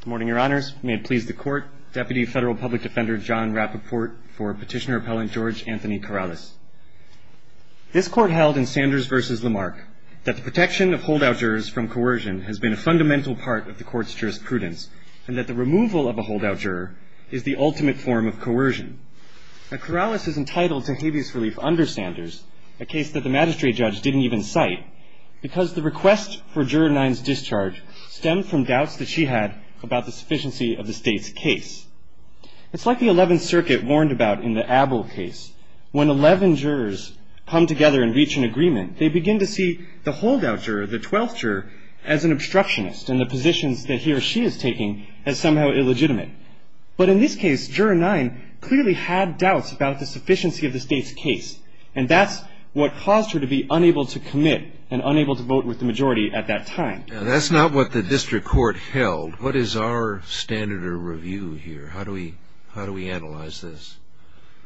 Good morning, Your Honors. May it please the Court, Deputy Federal Public Defender John Rappaport for Petitioner Appellant George Anthony Carrales. This Court held in Sanders v. Lamarck that the protection of holdout jurors from coercion has been a fundamental part of the Court's jurisprudence and that the removal of a holdout juror is the ultimate form of coercion. Now, Carrales is entitled to habeas relief under Sanders, a case that the magistrate judge didn't even cite, because the request for Juror 9's discharge stemmed from doubts that she had about the sufficiency of the State's case. It's like the Eleventh Circuit warned about in the Abel case. When eleven jurors come together and reach an agreement, they begin to see the holdout juror, the twelfth juror, as an obstructionist and the positions that he or she is taking as somehow illegitimate. But in this case, Juror 9 clearly had doubts about the sufficiency of the State's case, and that's what caused her to be unable to commit and unable to vote with the majority at that time. Now, that's not what the District Court held. What is our standard of review here? How do we analyze this?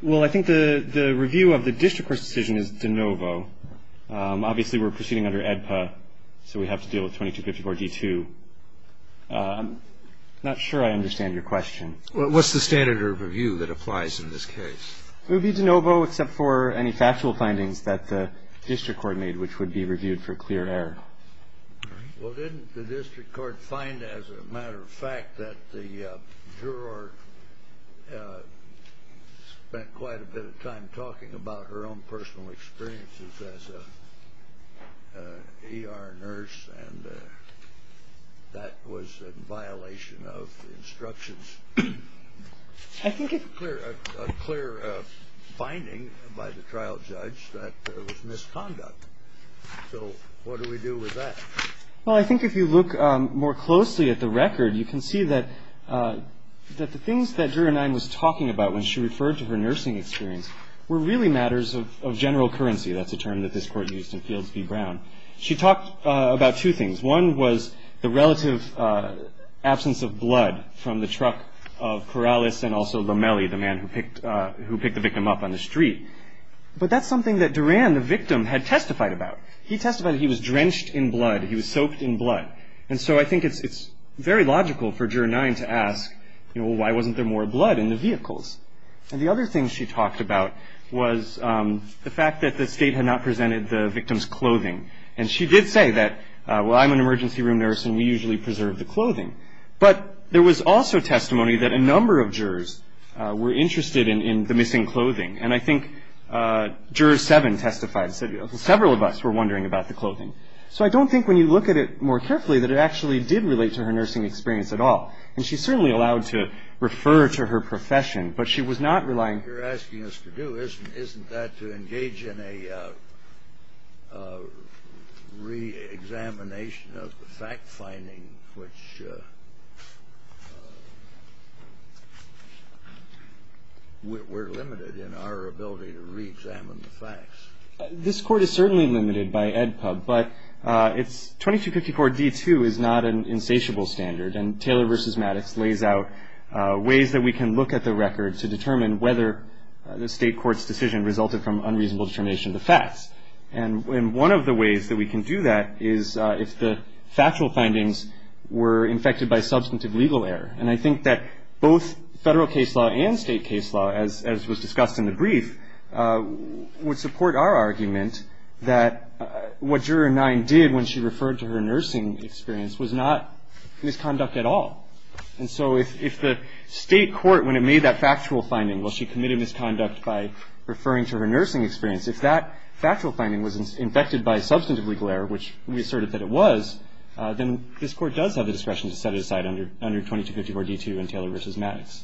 Well, I think the review of the District Court's decision is de novo. Obviously, we're proceeding under AEDPA, so we have to deal with 2254-D2. I'm not sure I understand your question. What's the standard of review that applies in this case? It would be de novo except for any factual findings that the District Court made, which would be reviewed for clear error. Well, didn't the District Court find, as a matter of fact, that the juror spent quite a bit of time talking about her own personal experiences as an ER nurse, and that was in violation of the instructions? I think it's clear, a clear finding by the trial judge that there was misconduct. So what do we do with that? Well, I think if you look more closely at the record, you can see that the things that Juror 9 was talking about when she referred to her nursing experience were really matters of general currency. That's a term that this Court used in Fields v. Brown. She talked about two things. One was the relative absence of blood from the truck of Corrales and also Lomelli, the man who picked the victim up on the street. But that's something that Duran, the victim, had testified about. He testified he was drenched in blood. He was soaked in blood. And so I think it's very logical for Juror 9 to ask, you know, why wasn't there more blood in the vehicles? And the other thing she talked about was the fact that the State had not presented the victim's clothing. And she did say that, well, I'm an emergency room nurse, and we usually preserve the clothing. But there was also testimony that a number of jurors were interested in the missing clothing. And I think Juror 7 testified and said several of us were wondering about the clothing. So I don't think when you look at it more carefully that it actually did relate to her nursing experience at all. And she certainly allowed to refer to her profession, but she was not relying. What you're asking us to do isn't that to engage in a reexamination of the fact-finding, which we're limited in our ability to reexamine the facts. This court is certainly limited by EdPub, but it's 2254 D2 is not an insatiable standard. And Taylor v. Maddox lays out ways that we can look at the record to determine whether the state court's decision resulted from unreasonable determination of the facts. And one of the ways that we can do that is if the factual findings were infected by substantive legal error. And I think that both federal case law and state case law, as was discussed in the brief, would support our argument that what Juror 9 did when she referred to her nursing experience was not misconduct at all. And so if the state court, when it made that factual finding, while she committed misconduct by referring to her nursing experience, if that factual finding was infected by substantive legal error, which we asserted that it was, then this court does have the discretion to set it aside under 2254 D2 and Taylor v. Maddox.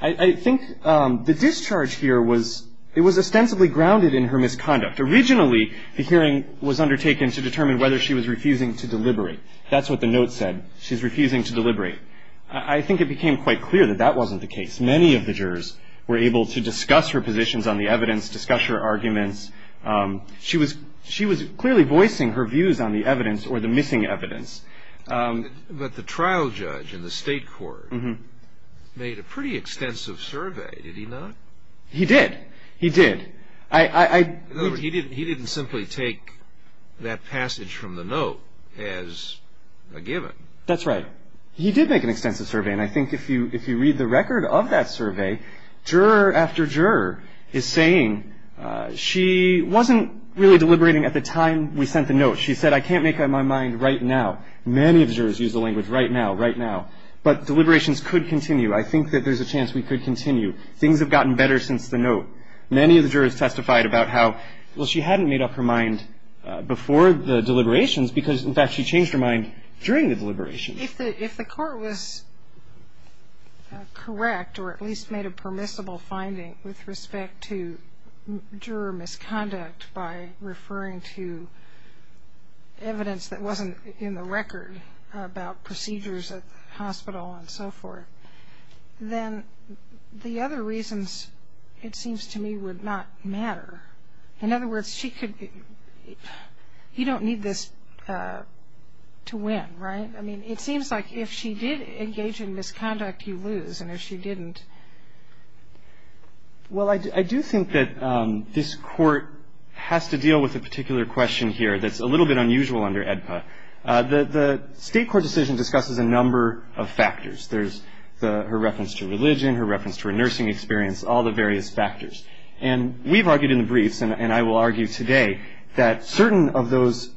I think the discharge here was, it was ostensibly grounded in her misconduct. Originally, the hearing was undertaken to determine whether she was refusing to deliberate. That's what the note said. She's refusing to deliberate. I think it became quite clear that that wasn't the case. Many of the jurors were able to discuss her positions on the evidence, discuss her arguments. She was clearly voicing her views on the evidence or the missing evidence. But the trial judge in the state court made a pretty extensive survey, did he not? He did. He did. He didn't simply take that passage from the note as a given. That's right. He did make an extensive survey, and I think if you read the record of that survey, juror after juror is saying she wasn't really deliberating at the time we sent the note. She said, I can't make up my mind right now. Many of the jurors used the language right now, right now. But deliberations could continue. I think that there's a chance we could continue. Things have gotten better since the note. Many of the jurors testified about how, well, she hadn't made up her mind before the deliberations because, in fact, she changed her mind during the deliberations. If the court was correct or at least made a permissible finding with respect to juror misconduct by referring to evidence that wasn't in the record about procedures at the hospital and so forth, then the other reasons, it seems to me, would not matter. In other words, you don't need this to win, right? I mean, it seems like if she did engage in misconduct, you lose, and if she didn't. Well, I do think that this Court has to deal with a particular question here that's a little bit unusual under AEDPA. The State court decision discusses a number of factors. There's her reference to religion, her reference to her nursing experience, all the various factors. And we've argued in the briefs, and I will argue today, that certain of those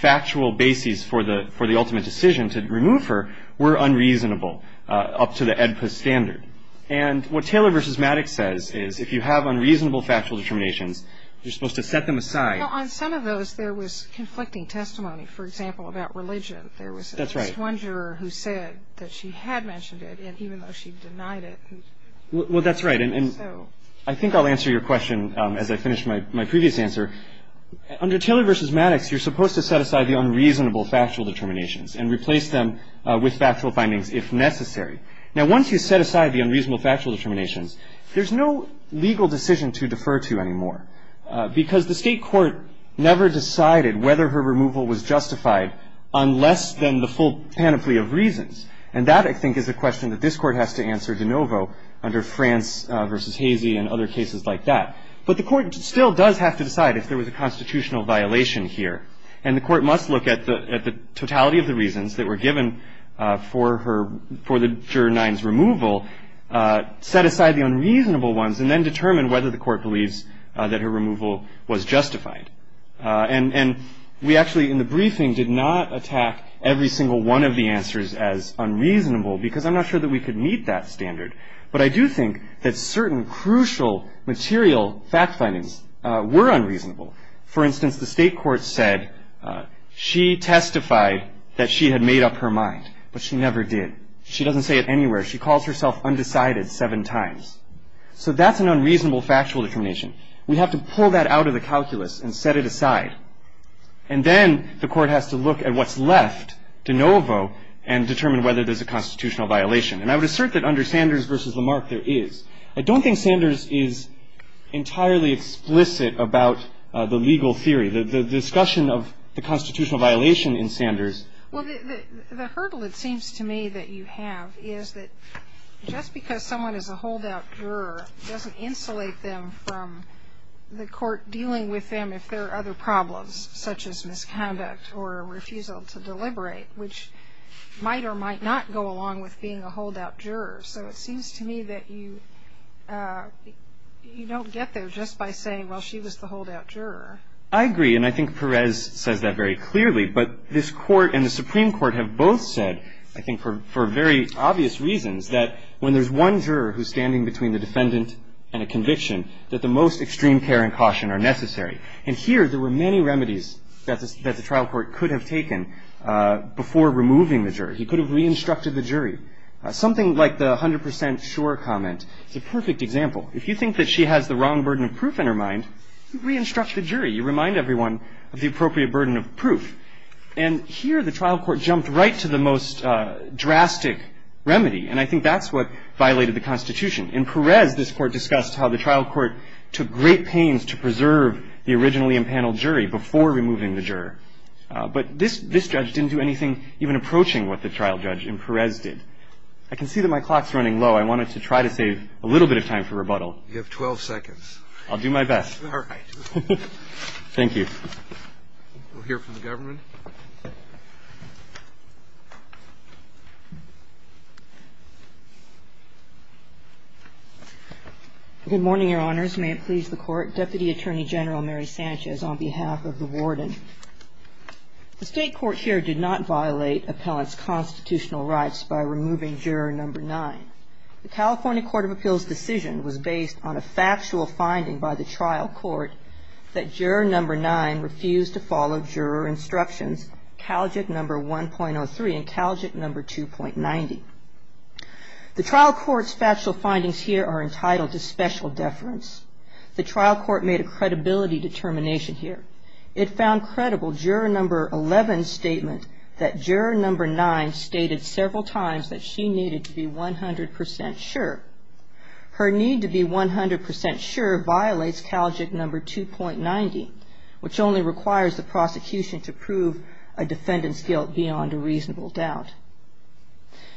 factual bases for the ultimate decision to remove her were unreasonable up to the AEDPA standard. And what Taylor v. Maddox says is if you have unreasonable factual determinations, you're supposed to set them aside. Well, on some of those, there was conflicting testimony, for example, about religion. That's right. There was one juror who said that she had mentioned it, and even though she denied it. Well, that's right, and I think I'll answer your question as I finish my previous answer. Under Taylor v. Maddox, you're supposed to set aside the unreasonable factual determinations and replace them with factual findings if necessary. Now, once you set aside the unreasonable factual determinations, there's no legal decision to defer to anymore because the state court never decided whether her removal was justified unless then the full panoply of reasons. And that, I think, is a question that this court has to answer de novo under France v. Hazy and other cases like that. But the court still does have to decide if there was a constitutional violation here, and the court must look at the totality of the reasons that were given for the juror 9's removal, set aside the unreasonable ones, and then determine whether the court believes that her removal was justified. And we actually, in the briefing, did not attack every single one of the answers as unreasonable because I'm not sure that we could meet that standard. But I do think that certain crucial material fact findings were unreasonable. For instance, the state court said she testified that she had made up her mind, but she never did. She doesn't say it anywhere. She calls herself undecided seven times. So that's an unreasonable factual determination. We have to pull that out of the calculus and set it aside. And then the court has to look at what's left de novo and determine whether there's a constitutional violation. And I would assert that under Sanders v. Lamarck there is. I don't think Sanders is entirely explicit about the legal theory, the discussion of the constitutional violation in Sanders. Well, the hurdle it seems to me that you have is that just because someone is a holdout juror doesn't insulate them from the court dealing with them if there are other problems, such as misconduct or refusal to deliberate, which might or might not go along with being a holdout juror. So it seems to me that you don't get there just by saying, well, she was the holdout juror. I agree. And I think Perez says that very clearly. But this court and the Supreme Court have both said, I think for very obvious reasons, that when there's one juror who's standing between the defendant and a conviction, that the most extreme care and caution are necessary. And here there were many remedies that the trial court could have taken before removing the jury. He could have re-instructed the jury. Something like the 100 percent sure comment is a perfect example. If you think that she has the wrong burden of proof in her mind, re-instruct the jury. You remind everyone of the appropriate burden of proof. And here the trial court jumped right to the most drastic remedy. And I think that's what violated the Constitution. In Perez, this Court discussed how the trial court took great pains to preserve the originally impaneled jury before removing the juror. But this judge didn't do anything even approaching what the trial judge in Perez did. I can see that my clock's running low. I wanted to try to save a little bit of time for rebuttal. You have 12 seconds. I'll do my best. All right. Thank you. We'll hear from the government. Good morning, Your Honors. May it please the Court. Deputy Attorney General Mary Sanchez on behalf of the Warden. The State court here did not violate appellant's constitutional rights by removing Juror Number 9. The California Court of Appeals decision was based on a factual finding by the trial court that Juror Number 9 refused to follow juror instructions, CalJIT Number 1.03 and CalJIT Number 2.90. The trial court's factual findings here are entitled to special deference. The trial court made a credibility determination here. It found credible Juror Number 11's statement that Juror Number 9 stated several times that she needed to be 100% sure. Her need to be 100% sure violates CalJIT Number 2.90, which only requires the prosecution to prove a defendant's guilt beyond a reasonable doubt.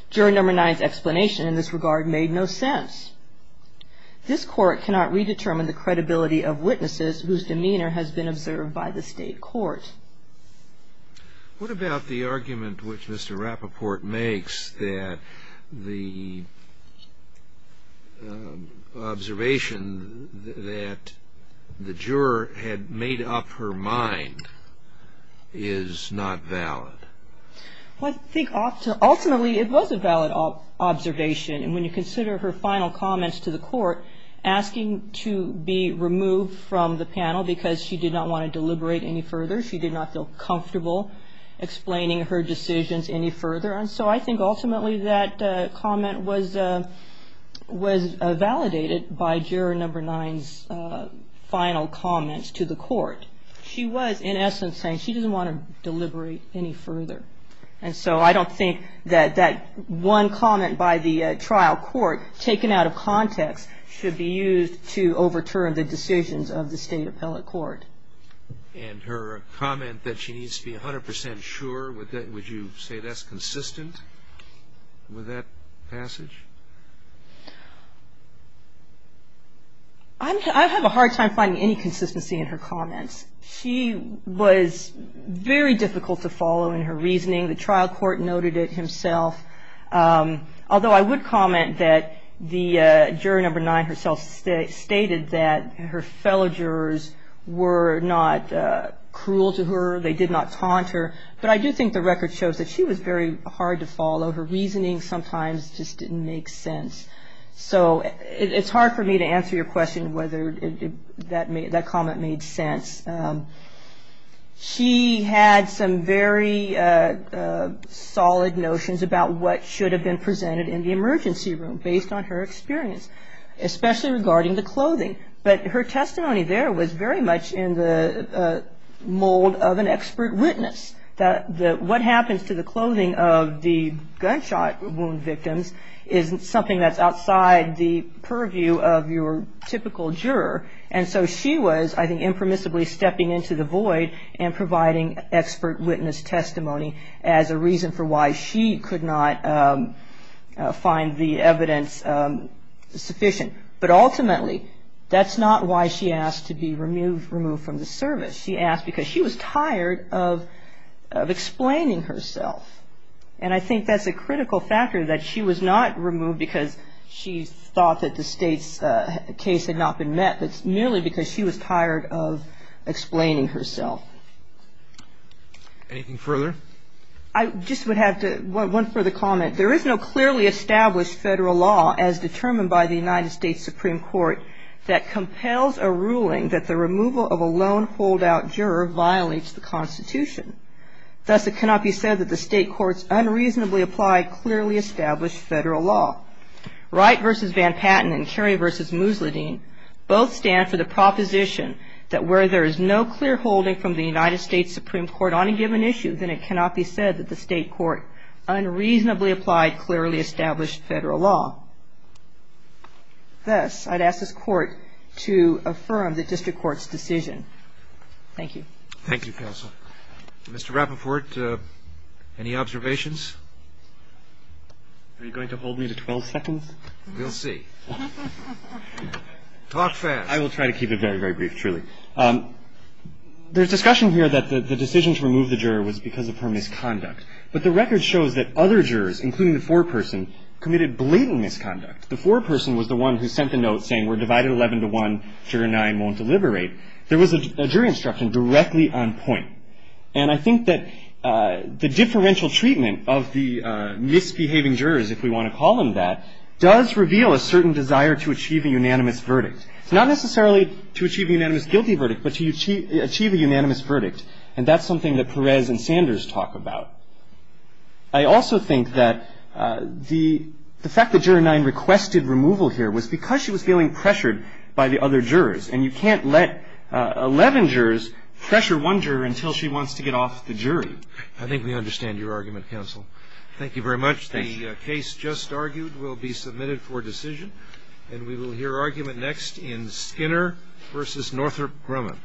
Juror Number 9's explanation in this regard made no sense. This court cannot redetermine the credibility of witnesses whose demeanor has been observed by the state court. What about the argument which Mr. Rappaport makes that the observation that the juror had made up her mind is not valid? Well, I think ultimately it was a valid observation. And when you consider her final comments to the court asking to be removed from the panel because she did not want to deliberate any further, she did not feel comfortable explaining her decisions any further. And so I think ultimately that comment was validated by Juror Number 9's final comments to the court. She was, in essence, saying she doesn't want to deliberate any further. And so I don't think that that one comment by the trial court, taken out of context, should be used to overturn the decisions of the state appellate court. And her comment that she needs to be 100% sure, would you say that's consistent with that passage? I have a hard time finding any consistency in her comments. She was very difficult to follow in her reasoning. The trial court noted it himself. Although I would comment that Juror Number 9 herself stated that her fellow jurors were not cruel to her. They did not taunt her. But I do think the record shows that she was very hard to follow. Her reasoning sometimes just didn't make sense. So it's hard for me to answer your question whether that comment made sense. She had some very solid notions about what should have been presented in the emergency room, based on her experience, especially regarding the clothing. But her testimony there was very much in the mold of an expert witness. What happens to the clothing of the gunshot wound victims is something that's outside the purview of your typical juror. And so she was, I think, impermissibly stepping into the void and providing expert witness testimony as a reason for why she could not find the evidence sufficient. But ultimately, that's not why she asked to be removed from the service. She asked because she was tired of explaining herself. And I think that's a critical factor, that she was not removed because she thought that the State's case had not been met, but merely because she was tired of explaining herself. Anything further? I just would have one further comment. There is no clearly established federal law, as determined by the United States Supreme Court, that compels a ruling that the removal of a lone holdout juror violates the Constitution. Thus, it cannot be said that the State court's unreasonably applied, clearly established federal law. Wright v. Van Patten and Kerry v. Musladeen both stand for the proposition that where there is no clear holding from the United States Supreme Court on a given issue, then it cannot be said that the State court unreasonably applied, clearly established federal law. Thus, I'd ask this Court to affirm the District Court's decision. Thank you. Thank you, Counsel. Mr. Rappaport, any observations? Are you going to hold me to 12 seconds? We'll see. Talk fast. I will try to keep it very, very brief, truly. There's discussion here that the decision to remove the juror was because of her misconduct. But the record shows that other jurors, including the foreperson, committed blatant misconduct. The foreperson was the one who sent the note saying, we're divided 11 to 1, juror 9 won't deliberate. There was a jury instruction directly on point. And I think that the differential treatment of the misbehaving jurors, if we want to call them that, does reveal a certain desire to achieve a unanimous verdict. Not necessarily to achieve a unanimous guilty verdict, but to achieve a unanimous verdict. And that's something that Perez and Sanders talk about. I also think that the fact that juror 9 requested removal here was because she was feeling pressured by the other jurors. And you can't let 11 jurors pressure one juror until she wants to get off the jury. I think we understand your argument, counsel. Thank you very much. The case just argued will be submitted for decision. And we will hear argument next in Skinner v. Northrop Grumman.